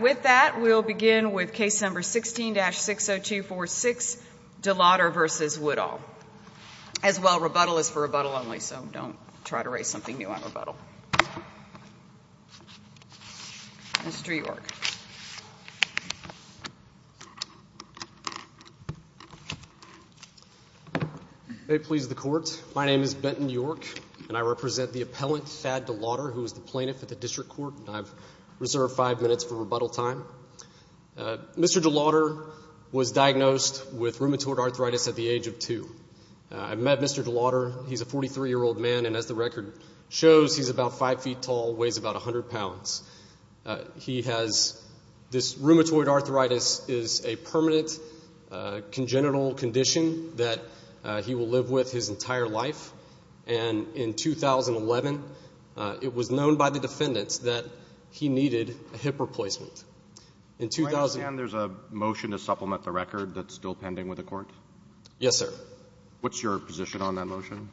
With that, we'll begin with case number 16-60246, Delautter v. Woodall. As well, rebuttal is for rebuttal only, so don't try to raise something new on rebuttal. Mr. York. May it please the Court, my name is Benton York, and I represent the appellant Thad Delautter, who is the plaintiff at the District Court. I've reserved five minutes for rebuttal time. Mr. Delautter was diagnosed with rheumatoid arthritis at the age of two. I've met Mr. Delautter. He's a 43-year-old man, and as the record shows, he's about five feet tall, weighs about 100 pounds. He has this rheumatoid arthritis is a permanent congenital condition that he will live with his entire life. And in 2011, it was known by the defendants that he needed a hip replacement. Do I understand there's a motion to supplement the record that's still pending with the Court? Yes, sir. What's your position on that motion?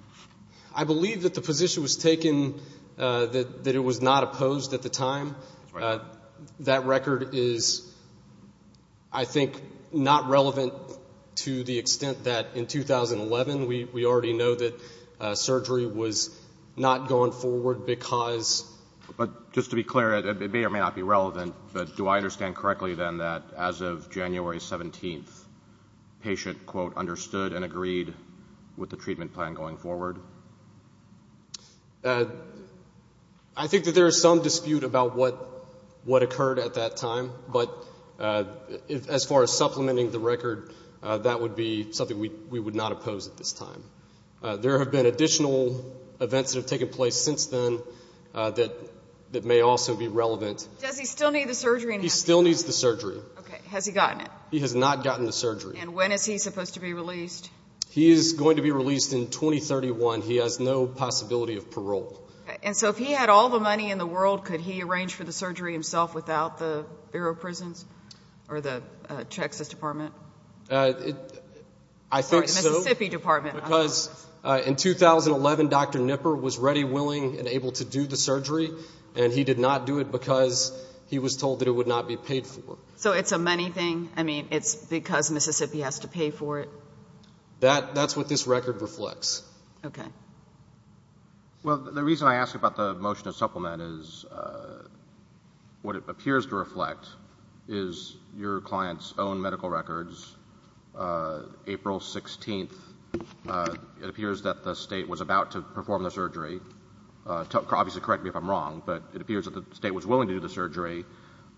I believe that the position was taken that it was not opposed at the time. That record is, I think, not relevant to the extent that in 2011 we already know that surgery was not going forward because. But just to be clear, it may or may not be relevant, but do I understand correctly, then, that as of January 17th, patient, quote, understood and agreed with the treatment plan going forward? I think that there is some dispute about what occurred at that time, but as far as supplementing the record, that would be something we would not oppose at this time. There have been additional events that have taken place since then that may also be relevant. Does he still need the surgery? He still needs the surgery. Okay. Has he gotten it? And when is he supposed to be released? He is going to be released in 2031. He has no possibility of parole. And so if he had all the money in the world, could he arrange for the surgery himself without the Bureau of Prisons or the Texas Department? I think so. Sorry, the Mississippi Department. Because in 2011, Dr. Knipper was ready, willing, and able to do the surgery, and he did not do it because he was told that it would not be paid for. So it's a money thing? I mean, it's because Mississippi has to pay for it? That's what this record reflects. Okay. Well, the reason I ask about the motion to supplement is what it appears to reflect is your client's own medical records. April 16th, it appears that the State was about to perform the surgery. Obviously correct me if I'm wrong, but it appears that the State was willing to do the surgery,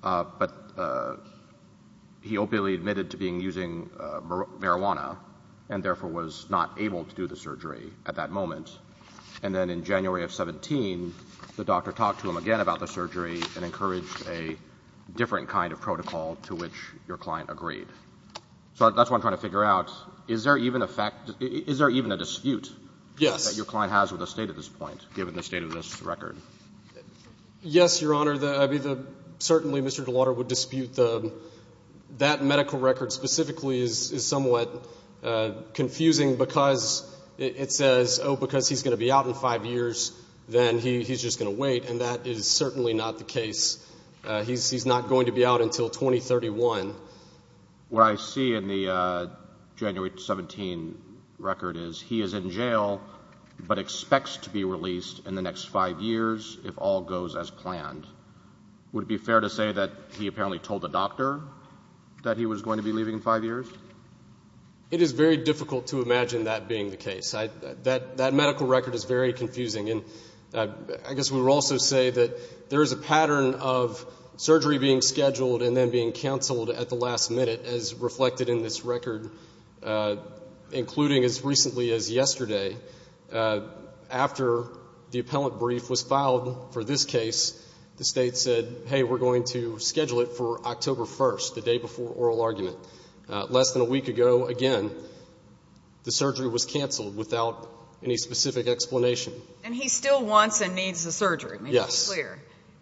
but he opiately admitted to being using marijuana and therefore was not able to do the surgery at that moment. And then in January of 17, the doctor talked to him again about the surgery and encouraged a different kind of protocol to which your client agreed. So that's what I'm trying to figure out. Is there even a dispute that your client has with the State at this point, given the State of this record? Yes, Your Honor. Certainly Mr. DeLauro would dispute that medical record specifically is somewhat confusing because it says, oh, because he's going to be out in five years, then he's just going to wait, and that is certainly not the case. He's not going to be out until 2031. What I see in the January 17 record is he is in jail but expects to be released in the next five years if all goes as planned. Would it be fair to say that he apparently told the doctor that he was going to be leaving in five years? It is very difficult to imagine that being the case. That medical record is very confusing. I guess we would also say that there is a pattern of surgery being scheduled and then being canceled at the last minute as reflected in this record, including as recently as yesterday. After the appellant brief was filed for this case, the State said, hey, we're going to schedule it for October 1st, the day before oral argument. Less than a week ago, again, the surgery was canceled without any specific explanation. And he still wants and needs the surgery? Yes.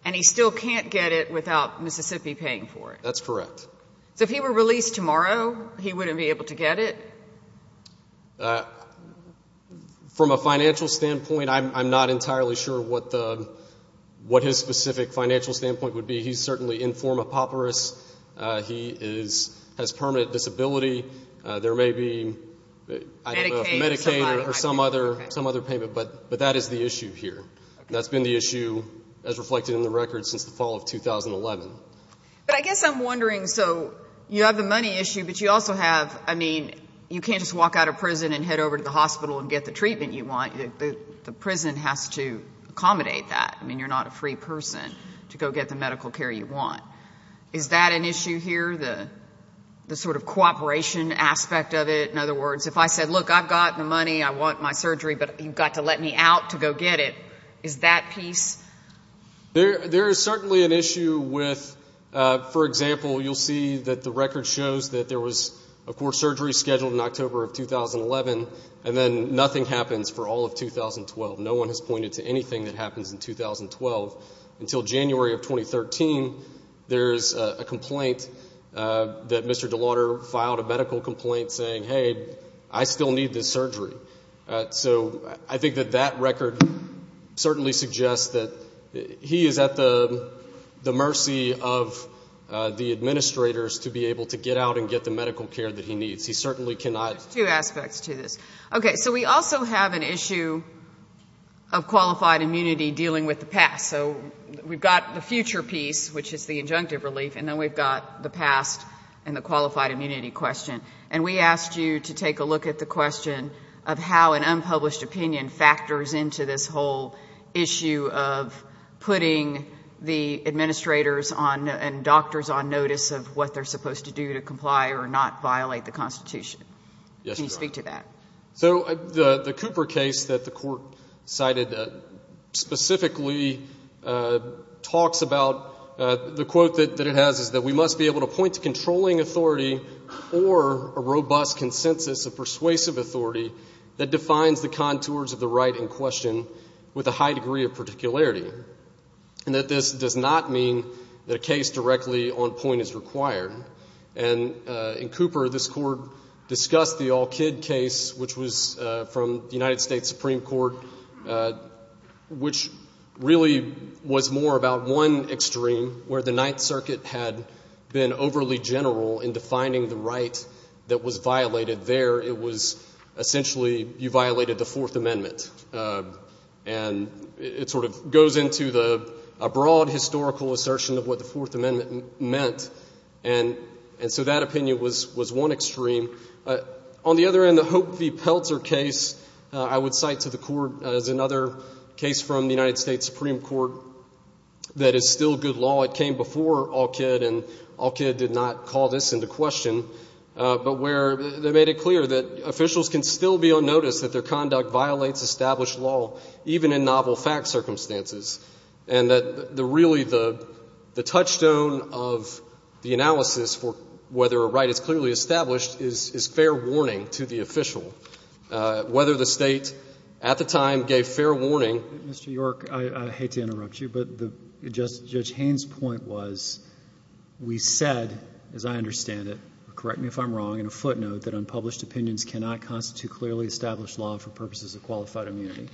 And he still can't get it without Mississippi paying for it? That's correct. So if he were released tomorrow, he wouldn't be able to get it? From a financial standpoint, I'm not entirely sure what his specific financial standpoint would be. He's certainly in form of papyrus. He has permanent disability. There may be Medicaid or some other payment, but that is the issue here. That's been the issue as reflected in the record since the fall of 2011. But I guess I'm wondering, so you have the money issue, but you also have, I mean, you can't just walk out of prison and head over to the hospital and get the treatment you want. The prison has to accommodate that. I mean, you're not a free person to go get the medical care you want. Is that an issue here, the sort of cooperation aspect of it? In other words, if I said, look, I've got the money, I want my surgery, but you've got to let me out to go get it, is that piece? There is certainly an issue with, for example, you'll see that the record shows that there was, of course, surgery scheduled in October of 2011, and then nothing happens for all of 2012. No one has pointed to anything that happens in 2012. Until January of 2013, there is a complaint that Mr. DeLauder filed, a medical complaint saying, hey, I still need this surgery. So I think that that record certainly suggests that he is at the mercy of the administrators to be able to get out and get the medical care that he needs. He certainly cannot. Two aspects to this. Okay. So we also have an issue of qualified immunity dealing with the past. So we've got the future piece, which is the injunctive relief, and then we've got the past and the qualified immunity question. And we asked you to take a look at the question of how an unpublished opinion factors into this whole issue of putting the administrators and doctors on notice of what they're supposed to do to comply or not violate the Constitution. Yes, Your Honor. Can you speak to that? So the Cooper case that the Court cited specifically talks about, the quote that it has is that we must be able to point to controlling authority or a robust consensus of persuasive authority that defines the contours of the right in question with a high degree of particularity, and that this does not mean that a case directly on point is required. And in Cooper, this Court discussed the All-Kid case, which was from the United States Supreme Court, which really was more about one extreme, where the Ninth Circuit had been overly general in defining the right that was violated there. It was essentially you violated the Fourth Amendment. And it sort of goes into a broad historical assertion of what the Fourth Amendment meant. And so that opinion was one extreme. On the other end, the Hope v. Pelzer case, I would cite to the Court as another case from the United States Supreme Court that is still good law. It came before All-Kid, and All-Kid did not call this into question, but where they made it clear that officials can still be on notice that their conduct violates established law, even in novel fact circumstances, and that really the touchstone of the analysis for whether a right is clearly established is fair warning to the official, whether the State at the time gave fair warning. Mr. York, I hate to interrupt you, but Judge Haynes' point was we said, as I understand it, correct me if I'm wrong, in a footnote, that unpublished opinions cannot constitute clearly established law for purposes of qualified immunity.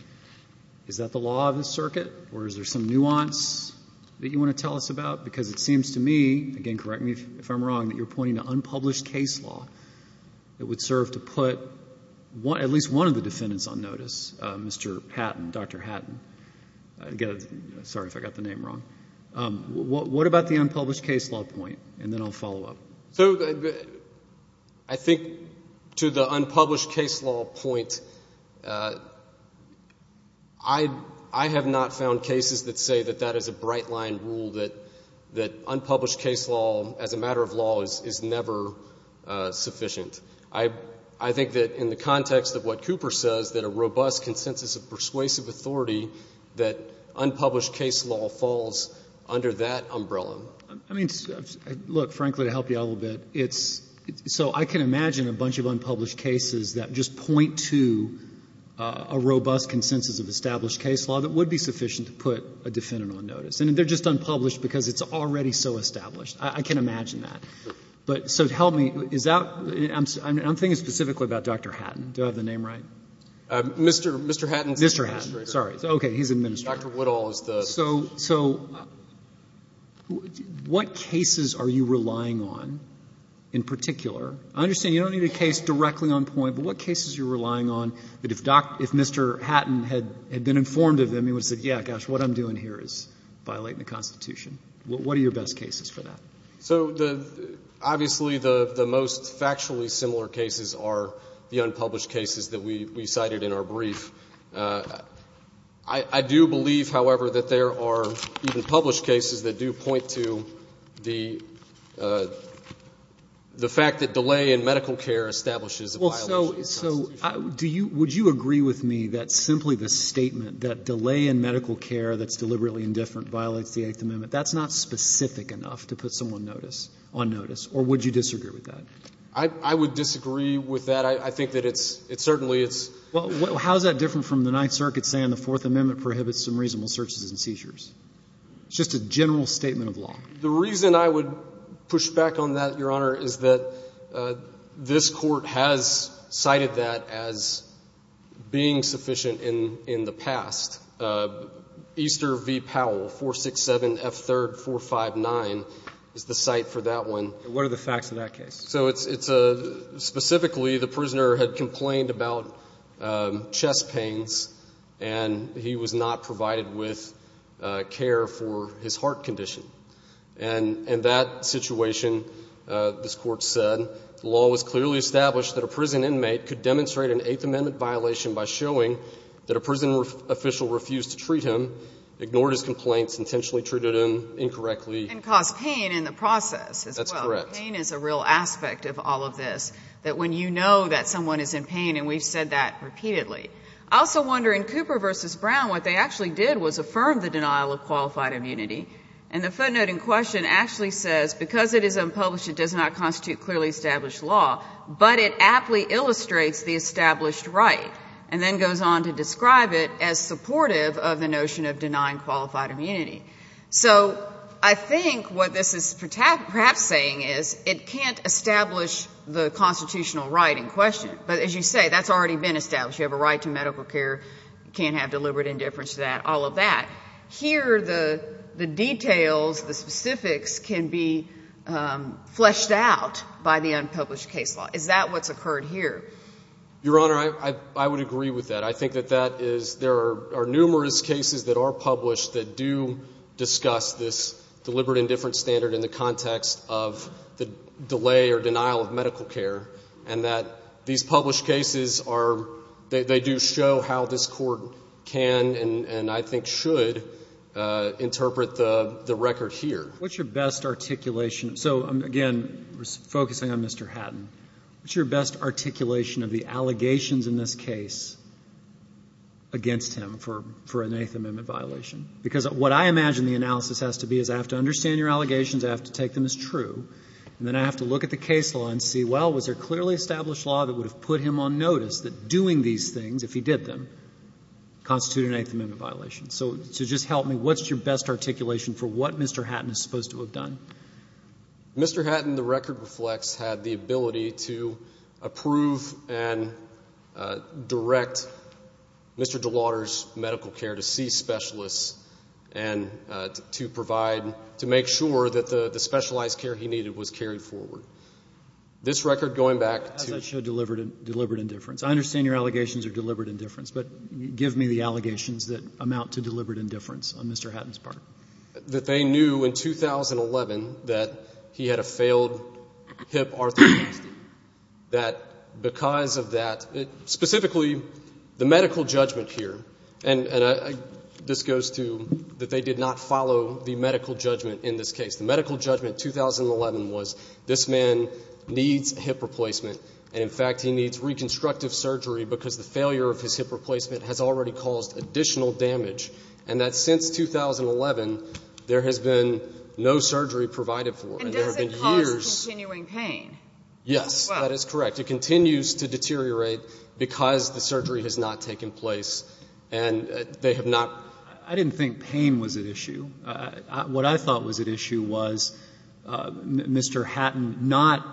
Is that the law of this circuit, or is there some nuance that you want to tell us about? Because it seems to me, again, correct me if I'm wrong, that you're pointing to unpublished case law that would serve to put at least one of the defendants on notice, Mr. Hatton, Dr. Hatton. Sorry if I got the name wrong. What about the unpublished case law point? And then I'll follow up. So I think to the unpublished case law point, I have not found cases that say that that is a bright-line rule, that unpublished case law as a matter of law is never sufficient. I think that in the context of what Cooper says, that a robust consensus of persuasive authority, that unpublished case law falls under that umbrella. I mean, look, frankly, to help you out a little bit, it's so I can imagine a bunch of unpublished cases that just point to a robust consensus of established case law that would be sufficient to put a defendant on notice. And they're just unpublished because it's already so established. I can imagine that. But so help me. I'm thinking specifically about Dr. Hatton. Do I have the name right? Mr. Hatton. Mr. Hatton. Sorry. He's an administrator. Dr. Woodall is the So what cases are you relying on in particular? I understand you don't need a case directly on point, but what cases are you relying on that if Mr. Hatton had been informed of them, he would have said, yeah, gosh, what I'm doing here is violating the Constitution. What are your best cases for that? So obviously the most factually similar cases are the unpublished cases that we cited in our brief. I do believe, however, that there are even published cases that do point to the fact that delay in medical care establishes a violation of the Constitution. Well, so would you agree with me that simply the statement that delay in medical care that's deliberately indifferent violates the Eighth Amendment, that's not specific enough to put someone on notice? Or would you disagree with that? I would disagree with that. I think that it's certainly it's Well, how is that different from the Ninth Circuit saying the Fourth Amendment prohibits some reasonable searches and seizures? It's just a general statement of law. The reason I would push back on that, Your Honor, is that this Court has cited that as being sufficient in the past. Easter v. Powell, 467F3459 is the cite for that one. What are the facts of that case? So it's specifically the prisoner had complained about chest pains, and he was not provided with care for his heart condition. And in that situation, this Court said, The law was clearly established that a prison inmate could demonstrate an Eighth Amendment violation by showing that a prison official refused to treat him, ignored his complaints, intentionally treated him incorrectly. And caused pain in the process as well. That's correct. Pain is a real aspect of all of this. That when you know that someone is in pain, and we've said that repeatedly. I also wonder, in Cooper v. Brown, what they actually did was affirm the denial of qualified immunity. And the footnote in question actually says, Because it is unpublished, it does not constitute clearly established law. But it aptly illustrates the established right. And then goes on to describe it as supportive of the notion of denying qualified immunity. So I think what this is perhaps saying is, It can't establish the constitutional right in question. But as you say, that's already been established. You have a right to medical care. You can't have deliberate indifference to that. All of that. Here, the details, the specifics can be fleshed out by the unpublished case law. Is that what's occurred here? Your Honor, I would agree with that. I think that that is, there are numerous cases that are published that do discuss this deliberate indifference standard in the context of the delay or denial of medical care. And that these published cases are, they do show how this Court can, and I think should, interpret the record here. What's your best articulation? So, again, focusing on Mr. Hatton. What's your best articulation of the allegations in this case against him for an Eighth Amendment violation? Because what I imagine the analysis has to be is I have to understand your allegations, I have to take them as true, and then I have to look at the case law and see, well, was there clearly established law that would have put him on notice that doing these things, if he did them, constitute an Eighth Amendment violation? So just help me. What's your best articulation for what Mr. Hatton is supposed to have done? Mr. Hatton, the record reflects, had the ability to approve and direct Mr. DeLauter's medical care to see specialists and to provide, to make sure that the specialized care he needed was carried forward. This record, going back to... As I showed deliberate indifference. I understand your allegations are deliberate indifference, but give me the allegations that amount to deliberate indifference on Mr. Hatton's part. That they knew in 2011 that he had a failed hip arthroplasty. That because of that, specifically the medical judgment here, and this goes to that they did not follow the medical judgment in this case. The medical judgment in 2011 was this man needs hip replacement, and in fact, he needs reconstructive surgery because the failure of his hip replacement has already there has been no surgery provided for. And there have been years... And does it cause continuing pain? Yes. As well. That is correct. It continues to deteriorate because the surgery has not taken place, and they have not... I didn't think pain was at issue. What I thought was at issue was Mr. Hatton not,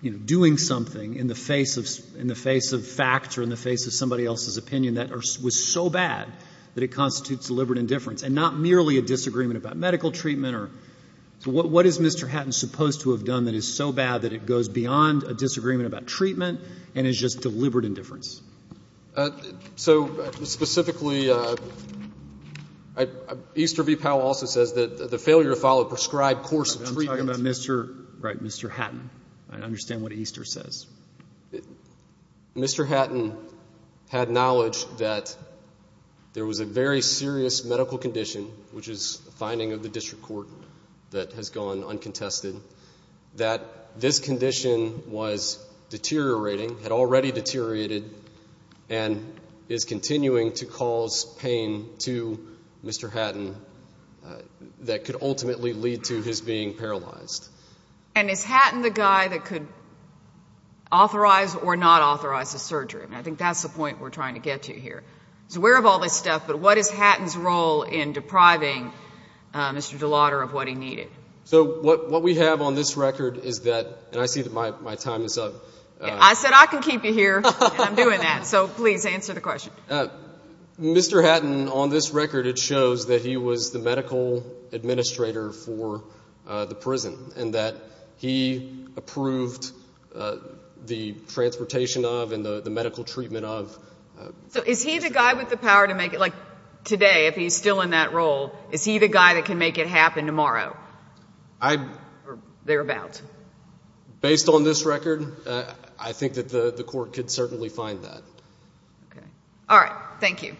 you know, doing something in the face of facts or in the face of somebody else's opinion that was so bad that it constitutes deliberate indifference, and not merely a disagreement about medical treatment. What is Mr. Hatton supposed to have done that is so bad that it goes beyond a disagreement about treatment and is just deliberate indifference? So, specifically, Easter v. Powell also says that the failure to follow a prescribed course of treatment... I'm talking about Mr. Hatton. I understand what Easter says. Mr. Hatton had knowledge that there was a very serious medical condition, which is a finding of the district court that has gone uncontested, that this condition was deteriorating, had already deteriorated, and is continuing to cause pain to Mr. Hatton that could ultimately lead to his being paralyzed. And is Hatton the guy that could authorize or not authorize the surgery? I think that's the point we're trying to get to here. He's aware of all this stuff, but what is Hatton's role in depriving Mr. DeLauder of what he needed? So, what we have on this record is that, and I see that my time is up. I said I can keep you here, and I'm doing that. So, please, answer the question. Mr. Hatton, on this record, it shows that he was the medical administrator for the district court and that he approved the transportation of and the medical treatment of. So, is he the guy with the power to make it, like, today, if he's still in that role, is he the guy that can make it happen tomorrow or thereabout? Based on this record, I think that the court could certainly find that. Okay. All right. Thank you,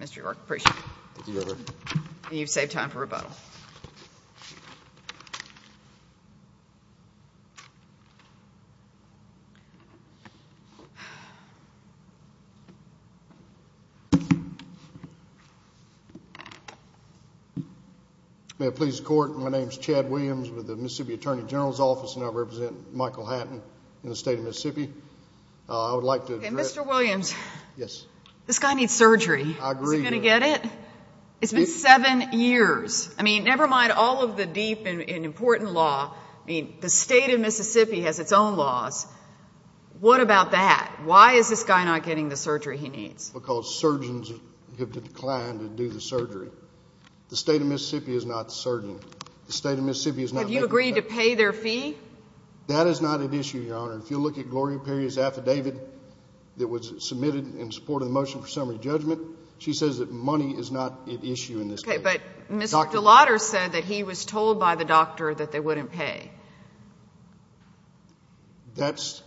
Mr. York. Appreciate it. Thank you, Your Honor. And you've saved time for rebuttal. May it please the Court, my name is Chad Williams with the Mississippi Attorney General's Office, and I represent Michael Hatton in the state of Mississippi. I would like to address... Okay, Mr. Williams. This guy needs surgery. I agree, Your Honor. Are you going to get it? It's been seven years. I mean, never mind all of the deep and important law, I mean, the state of Mississippi has its own laws. What about that? Why is this guy not getting the surgery he needs? Because surgeons have declined to do the surgery. The state of Mississippi is not the surgeon. The state of Mississippi is not... Have you agreed to pay their fee? That is not an issue, Your Honor. If you look at Gloria Perry's affidavit that was submitted in support of the motion for summary judgment, she says that money is not at issue in this case. Okay, but Mr. DeLauder said that he was told by the doctor that they wouldn't pay. That's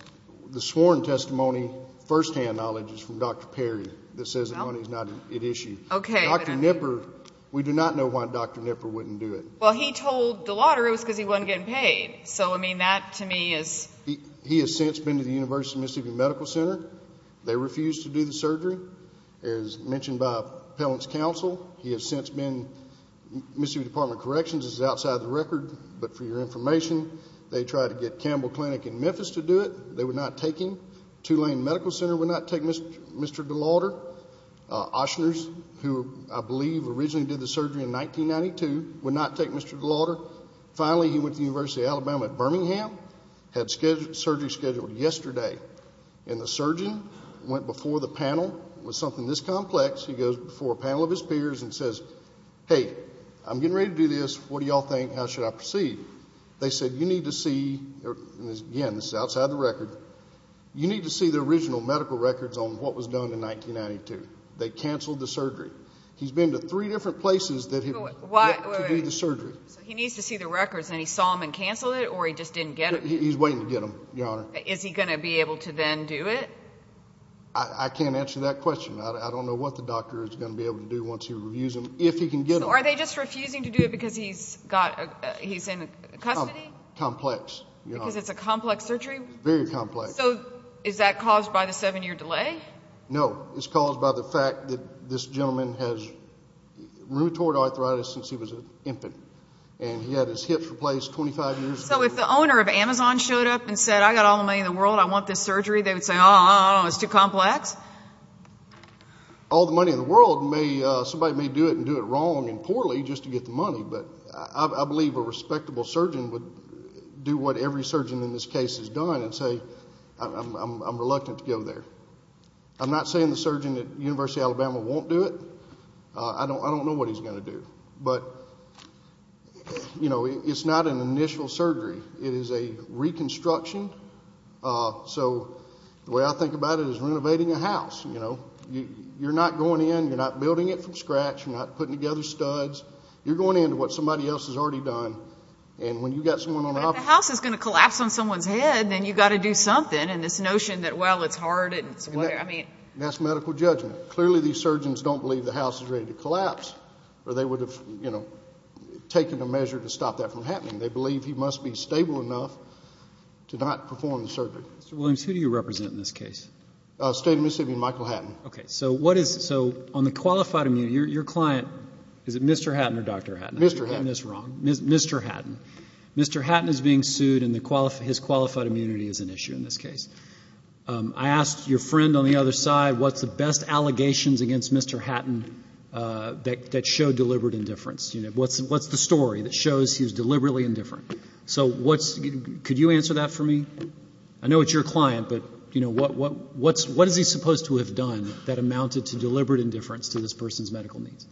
the sworn testimony, firsthand knowledge, is from Dr. Perry that says that money is not at issue. Okay, but... Dr. Knipper, we do not know why Dr. Knipper wouldn't do it. Well, he told DeLauder it was because he wasn't getting paid. So, I mean, that to me is... He has since been to the University of Mississippi Medical Center. They refused to do the surgery, as mentioned by Appellant's counsel. He has since been... Mississippi Department of Corrections is outside the record, but for your information, they tried to get Campbell Clinic in Memphis to do it. They would not take him. Tulane Medical Center would not take Mr. DeLauder. Oshners, who I believe originally did the surgery in 1992, would not take Mr. DeLauder. Finally, he went to the University of Alabama at Birmingham, had surgery scheduled yesterday, and the surgeon went before the panel. It was something this complex. He goes before a panel of his peers and says, Hey, I'm getting ready to do this. What do you all think? How should I proceed? They said, You need to see... Again, this is outside the record. You need to see the original medical records on what was done in 1992. They canceled the surgery. He's been to three different places to do the surgery. He needs to see the records, and he saw them and canceled it, or he just didn't get them? He's waiting to get them, Your Honor. Is he going to be able to then do it? I can't answer that question. I don't know what the doctor is going to be able to do once he reviews them, if he can get them. Are they just refusing to do it because he's in custody? Complex, Your Honor. Because it's a complex surgery? Very complex. Is that caused by the seven-year delay? No. It's caused by the fact that this gentleman has rheumatoid arthritis since he was an infant, and he had his hips replaced 25 years ago. So if the owner of Amazon showed up and said, I've got all the money in the world, I want this surgery, they would say, Oh, it's too complex? All the money in the world, somebody may do it and do it wrong and poorly just to get the money, but I believe a respectable surgeon would do what every surgeon in this case has done and say, I'm reluctant to go there. I'm not saying the surgeon at University of Alabama won't do it. I don't know what he's going to do. But, you know, it's not an initial surgery. It is a reconstruction. So the way I think about it is renovating a house, you know. You're not going in, you're not building it from scratch, you're not putting together studs. You're going into what somebody else has already done. If the house is going to collapse on someone's head, then you've got to do something, and this notion that, well, it's hard and it's whatever, I mean. And that's medical judgment. Clearly these surgeons don't believe the house is ready to collapse or they would have, you know, taken a measure to stop that from happening. They believe he must be stable enough to not perform the surgery. Mr. Williams, who do you represent in this case? State of Mississippi, Michael Hatton. Okay. So what is, so on the qualified immunity, your client, is it Mr. Hatton or Dr. Hatton? Mr. Hatton. I'm getting this wrong. Mr. Hatton. Mr. Hatton is being sued and his qualified immunity is an issue in this case. I asked your friend on the other side, what's the best allegations against Mr. Hatton that show deliberate indifference? What's the story that shows he was deliberately indifferent? So what's, could you answer that for me? I know it's your client, but, you know, what is he supposed to have done that amounted to deliberate indifference to this person's medical needs?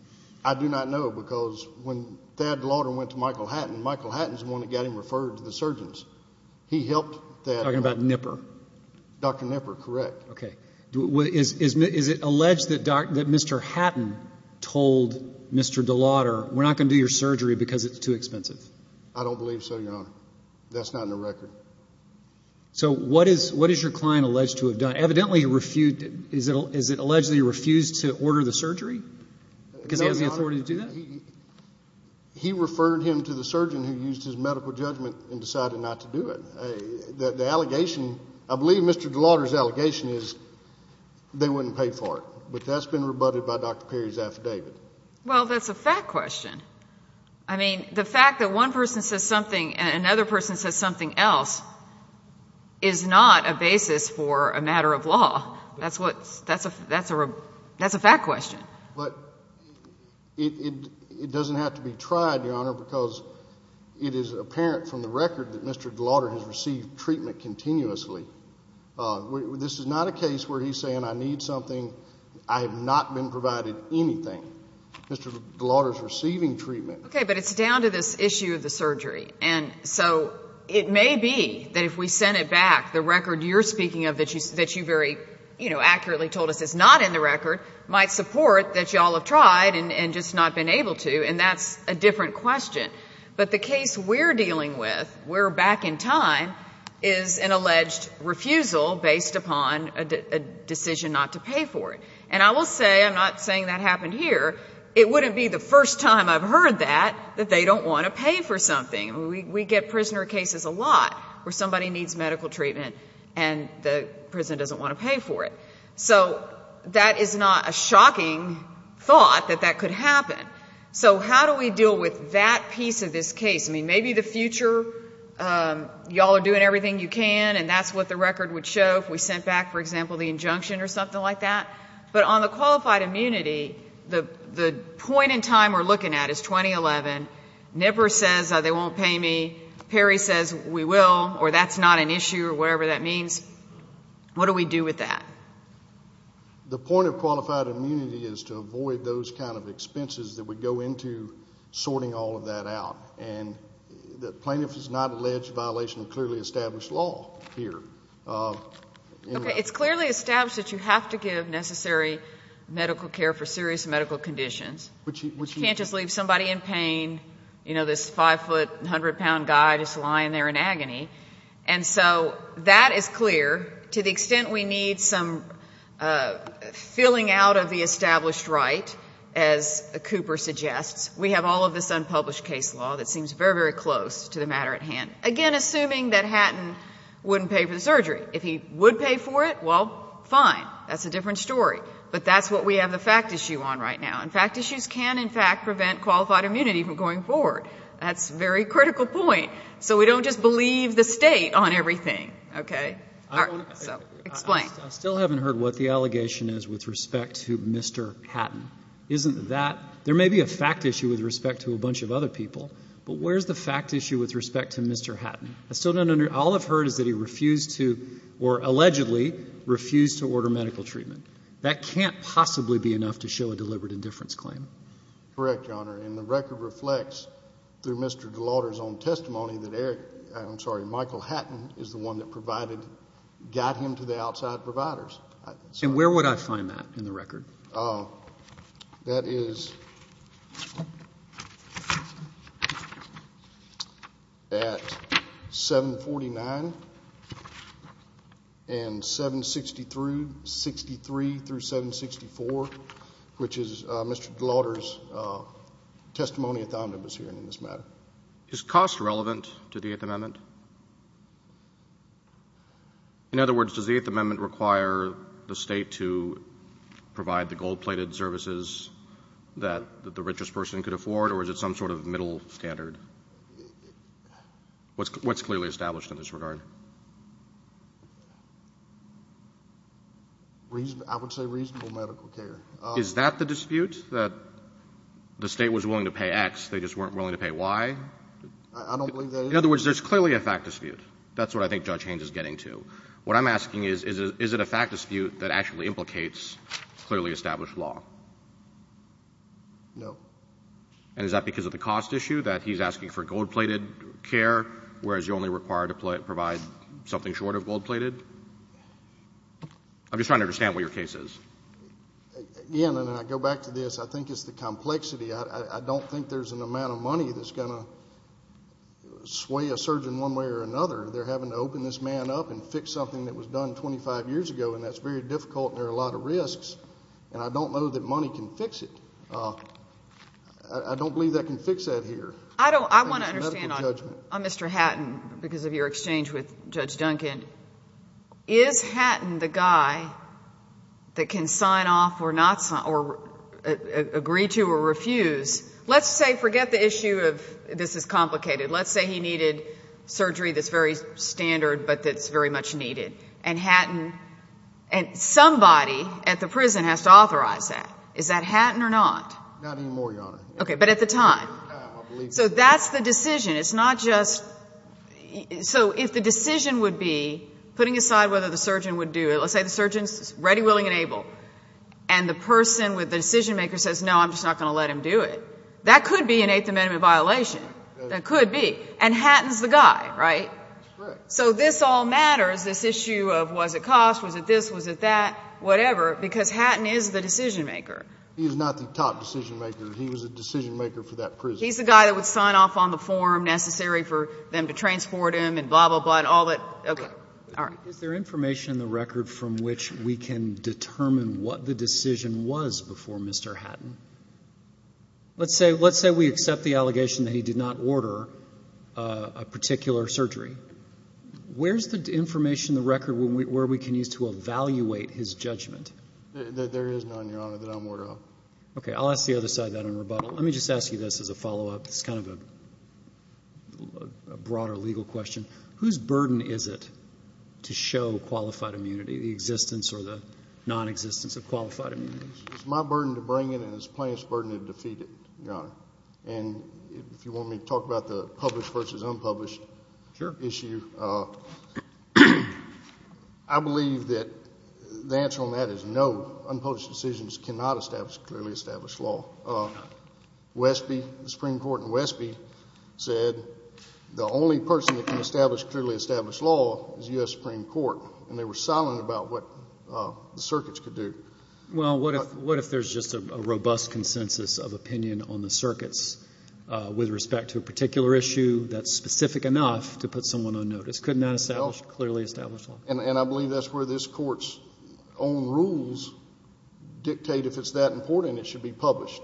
I do not know because when Thad DeLauder went to Michael Hatton, Michael Hatton's the one that got him referred to the surgeons. He helped Thad. You're talking about Nipper. Dr. Nipper, correct. Okay. Is it alleged that Mr. Hatton told Mr. DeLauder, we're not going to do your surgery because it's too expensive? I don't believe so, Your Honor. That's not in the record. So what is your client alleged to have done? Evidently he refused, is it alleged that he refused to order the surgery? Because he has the authority to do that? He referred him to the surgeon who used his medical judgment and decided not to do it. The allegation, I believe Mr. DeLauder's allegation is they wouldn't pay for it. But that's been rebutted by Dr. Perry's affidavit. Well, that's a fact question. I mean, the fact that one person says something and another person says something else is not a basis for a matter of law. That's a fact question. But it doesn't have to be tried, Your Honor, because it is apparent from the record that Mr. DeLauder has received treatment continuously. This is not a case where he's saying I need something, I have not been provided anything. Mr. DeLauder's receiving treatment. Okay. But it's down to this issue of the surgery. And so it may be that if we send it back, the record you're speaking of that you very, you know, accurately told us is not in the record, might support that you all have tried and just not been able to. And that's a different question. But the case we're dealing with, we're back in time, is an alleged refusal based upon a decision not to pay for it. And I will say, I'm not saying that happened here, it wouldn't be the first time I've heard that, that they don't want to pay for something. I mean, we get prisoner cases a lot where somebody needs medical treatment and the prison doesn't want to pay for it. So that is not a shocking thought that that could happen. So how do we deal with that piece of this case? I mean, maybe the future, you all are doing everything you can, and that's what the record would show if we sent back, for example, the injunction or something like that. But on the qualified immunity, the point in time we're looking at is 2011. Never says they won't pay me. Perry says we will or that's not an issue or whatever that means. What do we do with that? The point of qualified immunity is to avoid those kind of expenses that would go into sorting all of that out. And the plaintiff is not alleged violation of clearly established law here. Okay, it's clearly established that you have to give necessary medical care for serious medical conditions. You can't just leave somebody in pain, you know, this 5-foot, 100-pound guy just lying there in agony. And so that is clear to the extent we need some filling out of the established right, as Cooper suggests. We have all of this unpublished case law that seems very, very close to the matter at hand. Again, assuming that Hatton wouldn't pay for the surgery. If he would pay for it, well, fine. That's a different story. But that's what we have the fact issue on right now. And fact issues can, in fact, prevent qualified immunity from going forward. That's a very critical point. So we don't just believe the State on everything. Okay? So explain. I still haven't heard what the allegation is with respect to Mr. Hatton. Isn't that? There may be a fact issue with respect to a bunch of other people, but where's the fact issue with respect to Mr. Hatton? I still don't understand. All I've heard is that he refused to or allegedly refused to order medical treatment. That can't possibly be enough to show a deliberate indifference claim. Correct, Your Honor. And the record reflects, through Mr. DeLauder's own testimony, that Eric — I'm sorry, Michael Hatton is the one that provided, got him to the outside providers. And where would I find that in the record? That is at 749 and 763, 63 through 764, which is Mr. DeLauder's testimony at the omnibus hearing in this matter. Is cost relevant to the Eighth Amendment? In other words, does the Eighth Amendment require the state to provide the gold-plated services that the richest person could afford, or is it some sort of middle standard? What's clearly established in this regard? I would say reasonable medical care. Is that the dispute, that the state was willing to pay X, they just weren't willing to pay Y? I don't believe that is. In other words, there's clearly a fact dispute. That's what I think Judge Haynes is getting to. What I'm asking is, is it a fact dispute that actually implicates clearly established law? No. And is that because of the cost issue, that he's asking for gold-plated care, whereas you're only required to provide something short of gold-plated? I'm just trying to understand what your case is. Again, and I go back to this, I think it's the complexity. I don't think there's an amount of money that's going to sway a surgeon one way or another. They're having to open this man up and fix something that was done 25 years ago, and that's very difficult and there are a lot of risks. And I don't know that money can fix it. I don't believe that can fix that here. On Mr. Hatton, because of your exchange with Judge Duncan, is Hatton the guy that can sign off or agree to or refuse? Let's say, forget the issue of this is complicated. Let's say he needed surgery that's very standard but that's very much needed. And Hatton, and somebody at the prison has to authorize that. Is that Hatton or not? Not anymore, Your Honor. Okay, but at the time? So that's the decision. It's not just, so if the decision would be, putting aside whether the surgeon would do it, let's say the surgeon's ready, willing, and able, and the person with the decision maker says, no, I'm just not going to let him do it. That could be an Eighth Amendment violation. That could be. And Hatton's the guy, right? That's correct. So this all matters, this issue of was it cost, was it this, was it that, whatever, because Hatton is the decision maker. He's not the top decision maker. He was the decision maker for that prison. He's the guy that would sign off on the form necessary for them to transport him and blah, blah, blah, and all that. Okay. All right. Is there information in the record from which we can determine what the decision was before Mr. Hatton? Let's say we accept the allegation that he did not order a particular surgery. Where's the information in the record where we can use to evaluate his judgment? There is none, Your Honor, that I'm aware of. Okay. I'll ask the other side of that in rebuttal. Let me just ask you this as a follow-up. It's kind of a broader legal question. Whose burden is it to show qualified immunity, the existence or the nonexistence of qualified immunity? It's my burden to bring it, and it's plaintiff's burden to defeat it, Your Honor. And if you want me to talk about the published versus unpublished issue, I believe that the answer on that is no. It's not clearly established law. Westby, the Supreme Court in Westby, said the only person that can establish clearly established law is U.S. Supreme Court, and they were silent about what the circuits could do. Well, what if there's just a robust consensus of opinion on the circuits with respect to a particular issue that's specific enough to put someone on notice? Couldn't that establish clearly established law? And I believe that's where this Court's own rules dictate if it's that important it should be published.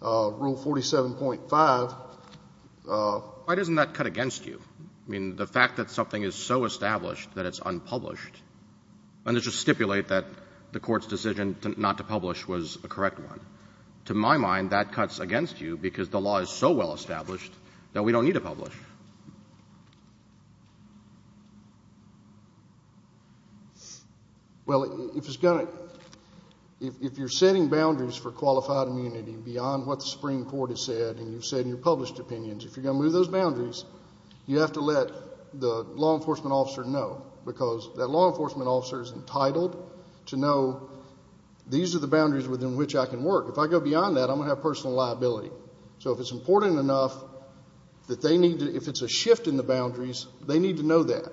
Rule 47.5. Why doesn't that cut against you? I mean, the fact that something is so established that it's unpublished, let's just stipulate that the Court's decision not to publish was a correct one. To my mind, that cuts against you because the law is so well established that we don't need to publish. Well, if it's going to — if you're setting boundaries for qualified immunity beyond what the Supreme Court has said and you've said in your published opinions, if you're going to move those boundaries, you have to let the law enforcement officer know because that law enforcement officer is entitled to know these are the boundaries within which I can work. If I go beyond that, I'm going to have personal liability. So if it's important enough that they need to — if it's a shift in the boundaries, they need to know that.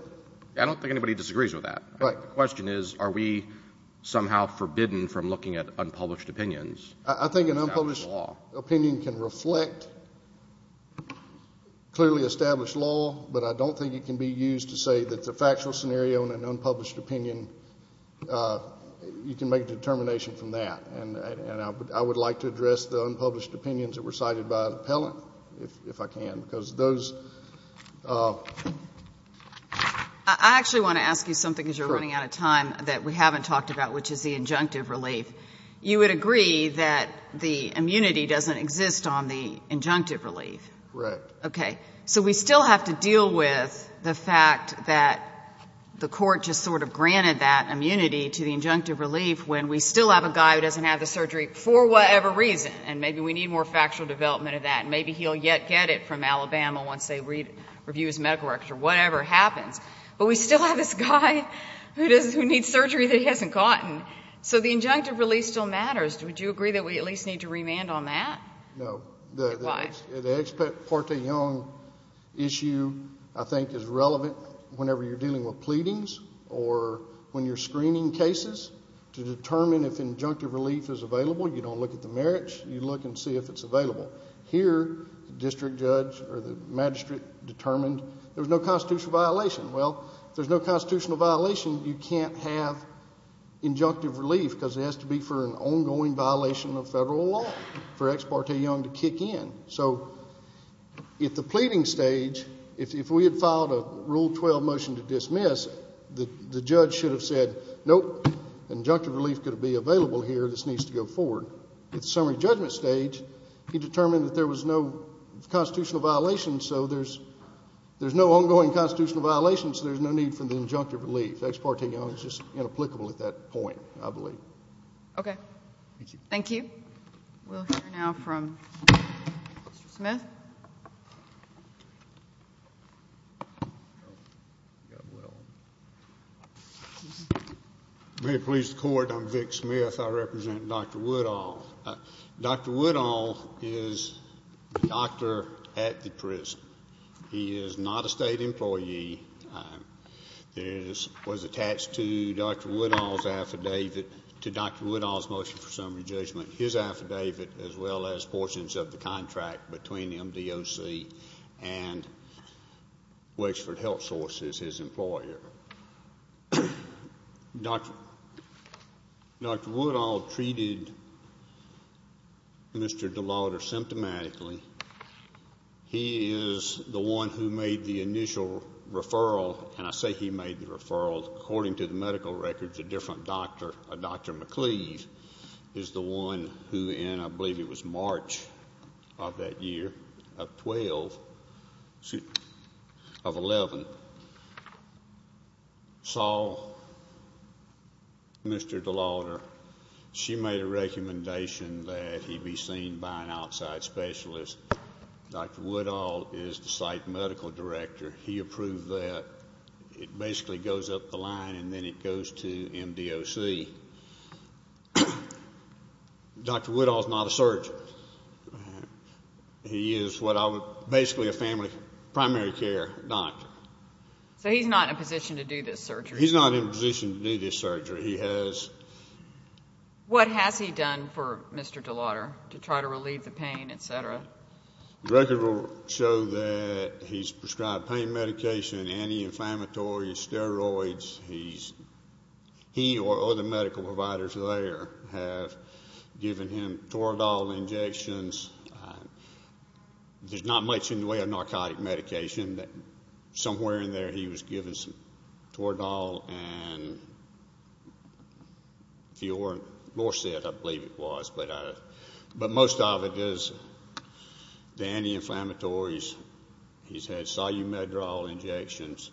I don't think anybody disagrees with that. The question is are we somehow forbidden from looking at unpublished opinions? I think an unpublished opinion can reflect clearly established law, but I don't think it can be used to say that the factual scenario in an unpublished opinion, you can make a determination from that. And I would like to address the unpublished opinions that were cited by an appellant if I can, because those — I actually want to ask you something because you're running out of time that we haven't talked about, which is the injunctive relief. You would agree that the immunity doesn't exist on the injunctive relief. Correct. Okay. So we still have to deal with the fact that the Court just sort of granted that immunity to the injunctive relief when we still have a guy who doesn't have the surgery for whatever reason, and maybe we need more factual development of that, and maybe he'll yet get it from Alabama once they review his medical records or whatever happens, but we still have this guy who needs surgery that he hasn't gotten. So the injunctive relief still matters. Would you agree that we at least need to remand on that? No. Why? The ex parte young issue I think is relevant whenever you're dealing with pleadings or when you're screening cases to determine if injunctive relief is available. You don't look at the merits. You look and see if it's available. Here, the district judge or the magistrate determined there was no constitutional violation. Well, if there's no constitutional violation, you can't have injunctive relief because it has to be for an ongoing violation of federal law for ex parte young to kick in. So at the pleading stage, if we had filed a Rule 12 motion to dismiss, the judge should have said, nope, injunctive relief couldn't be available here. This needs to go forward. At the summary judgment stage, he determined that there was no constitutional violation, so there's no ongoing constitutional violation, so there's no need for the injunctive relief. Ex parte young is just inapplicable at that point, I believe. Okay. Thank you. Okay. We'll hear now from Mr. Smith. May it please the Court, I'm Vic Smith. I represent Dr. Woodall. Dr. Woodall is the doctor at the prison. He is not a state employee. It was attached to Dr. Woodall's affidavit, to Dr. Woodall's motion for summary judgment, his affidavit, as well as portions of the contract between MDOC and Wakesford Health Sources, his employer. Dr. Woodall treated Mr. DeLauder symptomatically. He is the one who made the initial referral, and I say he made the referral. According to the medical records, a different doctor, a Dr. McCleave, is the one who, and I believe it was March of that year, of 12, of 11, saw Mr. DeLauder. She made a recommendation that he be seen by an outside specialist. Dr. Woodall is the site medical director. He approved that. It basically goes up the line, and then it goes to MDOC. Dr. Woodall is not a surgeon. He is basically a family primary care doctor. So he's not in a position to do this surgery? He's not in a position to do this surgery. He has. What has he done for Mr. DeLauder to try to relieve the pain, et cetera? The records show that he's prescribed pain medication, anti-inflammatory, steroids. He or other medical providers there have given him Toradol injections. There's not much in the way of narcotic medication. Somewhere in there he was given some Toradol. I believe it was. But most of it is the anti-inflammatories. He's had solumedrol injections.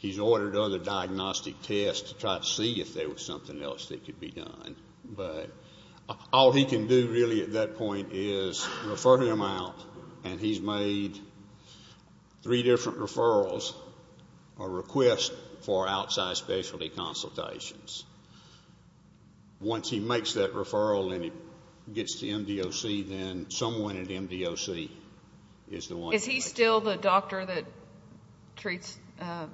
He's ordered other diagnostic tests to try to see if there was something else that could be done. All he can do really at that point is refer him out, and he's made three different referrals or requests for outside specialty consultations. Once he makes that referral and he gets to MDOC, then someone at MDOC is the one. Is he still the doctor that treats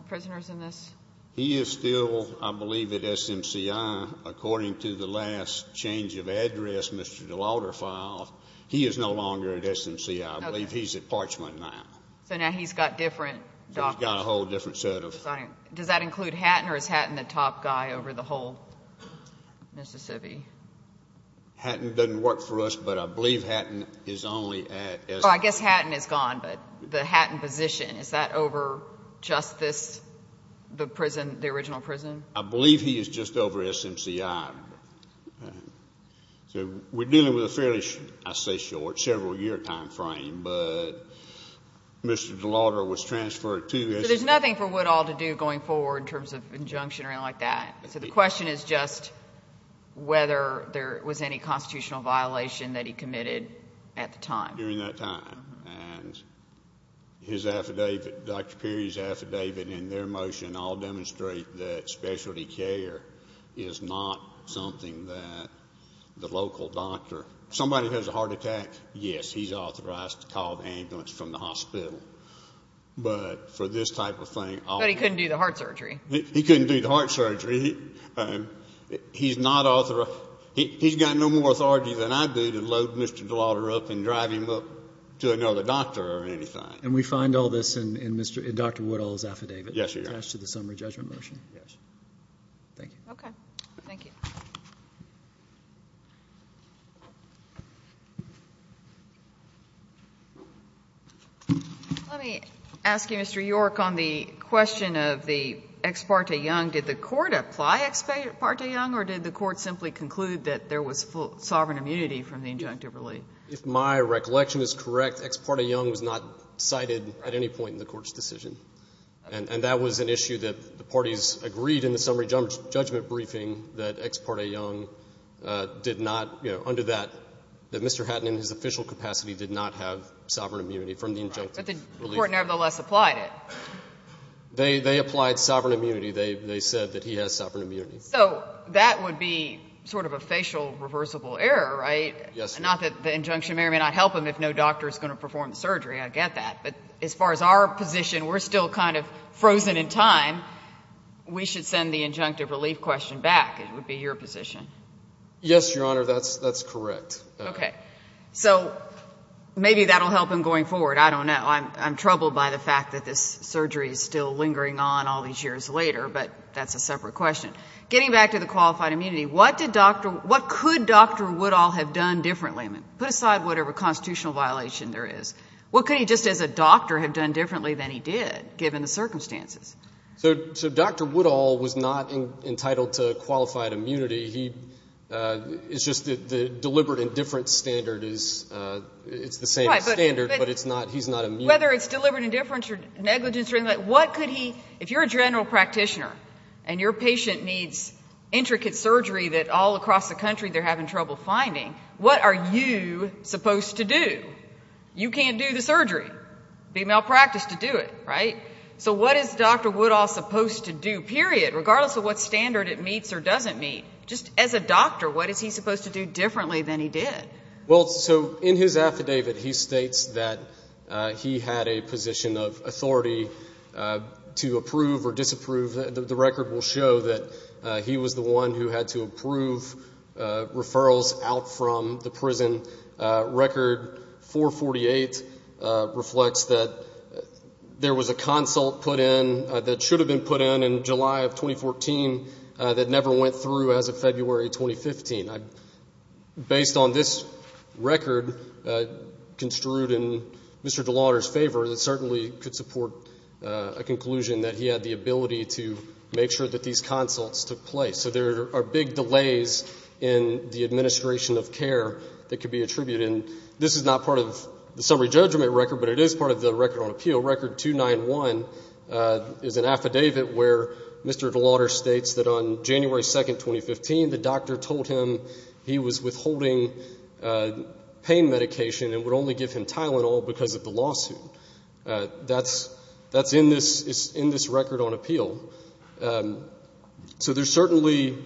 prisoners in this? He is still, I believe, at SMCI. According to the last change of address Mr. DeLauder filed, he is no longer at SMCI. I believe he's at Parchment now. So now he's got different doctors. He's got a whole different set of. Does that include Hatton or is Hatton the top guy over the whole Mississippi? Hatton doesn't work for us, but I believe Hatton is only at SMCI. I guess Hatton is gone, but the Hatton position, is that over just this, the prison, the original prison? I believe he is just over SMCI. So we're dealing with a fairly, I say short, several-year time frame, but Mr. DeLauder was transferred to SMCI. So there's nothing for Woodall to do going forward in terms of injunction or anything like that. So the question is just whether there was any constitutional violation that he committed at the time. During that time. And his affidavit, Dr. Perry's affidavit and their motion all demonstrate that specialty care is not something that the local doctor. Somebody has a heart attack, yes, he's authorized to call the ambulance from the hospital. But for this type of thing. But he couldn't do the heart surgery. He couldn't do the heart surgery. He's not authorized. He's got no more authority than I do to load Mr. DeLauder up and drive him up to another doctor or anything. And we find all this in Dr. Woodall's affidavit? Yes, Your Honor. Attached to the summary judgment motion? Yes. Thank you. Thank you. Let me ask you, Mr. York, on the question of the ex parte young. Did the Court apply ex parte young, or did the Court simply conclude that there was sovereign immunity from the injunctive relief? If my recollection is correct, ex parte young was not cited at any point in the Court's decision. And that was an issue that the parties agreed in the summary judgment briefing that ex parte young did not, under that, that Mr. Hatton in his official capacity did not have sovereign immunity from the injunctive relief. But the Court nevertheless applied it. They applied sovereign immunity. They said that he has sovereign immunity. So that would be sort of a facial reversible error, right? Yes. Not that the injunction may or may not help him if no doctor is going to perform the surgery. I get that. But as far as our position, we're still kind of frozen in time. We should send the injunctive relief question back. It would be your position. Yes, Your Honor. That's correct. Okay. So maybe that will help him going forward. I don't know. I'm troubled by the fact that this surgery is still lingering on all these years later. But that's a separate question. Getting back to the qualified immunity, what did Dr. What could Dr. Woodall have done differently? Put aside whatever constitutional violation there is. What could he just as a doctor have done differently than he did, given the circumstances? So Dr. Woodall was not entitled to qualified immunity. It's just that the deliberate indifference standard is the same standard, but he's not immune. Whether it's deliberate indifference or negligence or anything like that, what could he do? If you're a general practitioner and your patient needs intricate surgery that all across the country they're having trouble finding, what are you supposed to do? You can't do the surgery. It would be malpractice to do it, right? So what is Dr. Woodall supposed to do, period, regardless of what standard it meets or doesn't meet? Just as a doctor, what is he supposed to do differently than he did? Well, so in his affidavit he states that he had a position of authority to approve or disapprove. The record will show that he was the one who had to approve referrals out from the prison. Record 448 reflects that there was a consult put in that should have been put in in July of 2014 that never went through as of February 2015. Based on this record construed in Mr. DeLauter's favor, it certainly could support a conclusion that he had the ability to make sure that these consults took place. So there are big delays in the administration of care that could be attributed. And this is not part of the summary judgment record, but it is part of the record on appeal. Record 291 is an affidavit where Mr. DeLauter states that on January 2, 2015, the doctor told him he was withholding pain medication and would only give him Tylenol because of the lawsuit. That's in this record on appeal. So there's certainly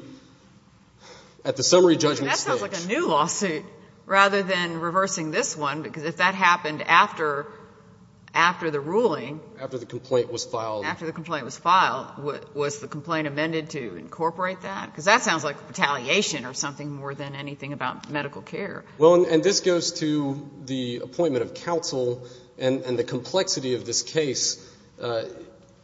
at the summary judgment stage. And that sounds like a new lawsuit rather than reversing this one, because if that happened after the ruling. After the complaint was filed. After the complaint was filed. Was the complaint amended to incorporate that? Because that sounds like retaliation or something more than anything about medical care. Well, and this goes to the appointment of counsel and the complexity of this case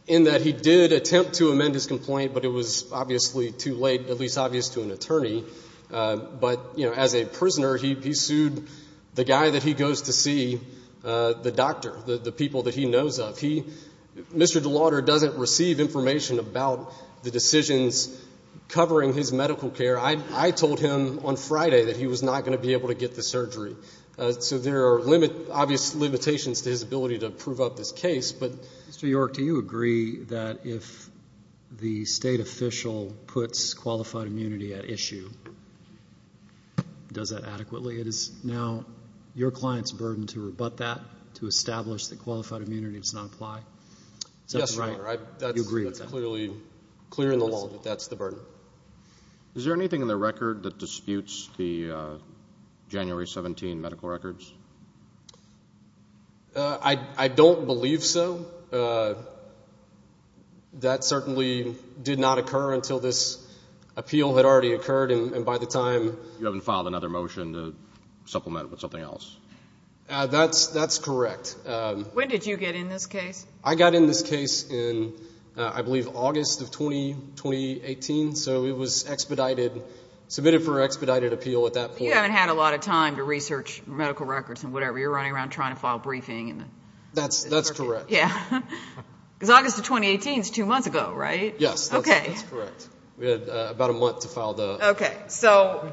in that he did attempt to amend his complaint, but it was obviously too late, at least obvious to an attorney. But, you know, as a prisoner, he sued the guy that he goes to see, the doctor, the people that he knows of. Mr. DeLauter doesn't receive information about the decisions covering his medical care. I told him on Friday that he was not going to be able to get the surgery. So there are obvious limitations to his ability to prove up this case. Mr. York, do you agree that if the State official puts qualified immunity at issue, does that adequately? It is now your client's burden to rebut that, to establish that qualified immunity does not apply? Yes, Your Honor. You agree with that? That's clearly clear in the law that that's the burden. Is there anything in the record that disputes the January 17 medical records? I don't believe so. That certainly did not occur until this appeal had already occurred, and by the time... You haven't filed another motion to supplement with something else? That's correct. When did you get in this case? I got in this case in, I believe, August of 2018. So it was expedited, submitted for expedited appeal at that point. You haven't had a lot of time to research medical records and whatever. You're running around trying to file a briefing. That's correct. Because August of 2018 is two months ago, right? Yes. That's correct. We had about a month to file the... Okay. So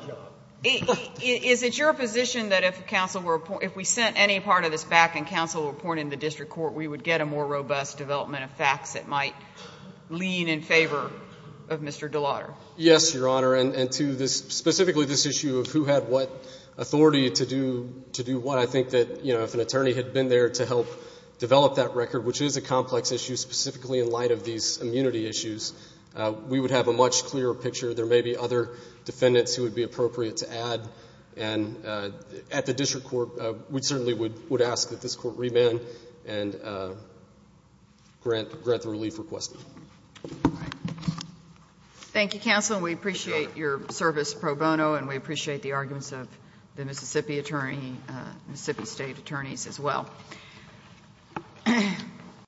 is it your position that if we sent any part of this back and counsel reported in the district court, we would get a more robust development of facts that might lean in favor of Mr. DeLauder? Yes, Your Honor. And to specifically this issue of who had what authority to do what, I think that if an attorney had been there to help develop that record, which is a complex issue, specifically in light of these immunity issues, we would have a much clearer picture. There may be other defendants who would be appropriate to add. And at the district court, we certainly would ask that this court remand and grant the relief requested. All right. Thank you, counsel. We appreciate your service pro bono, and we appreciate the arguments of the Mississippi attorney, Mississippi State attorneys as well.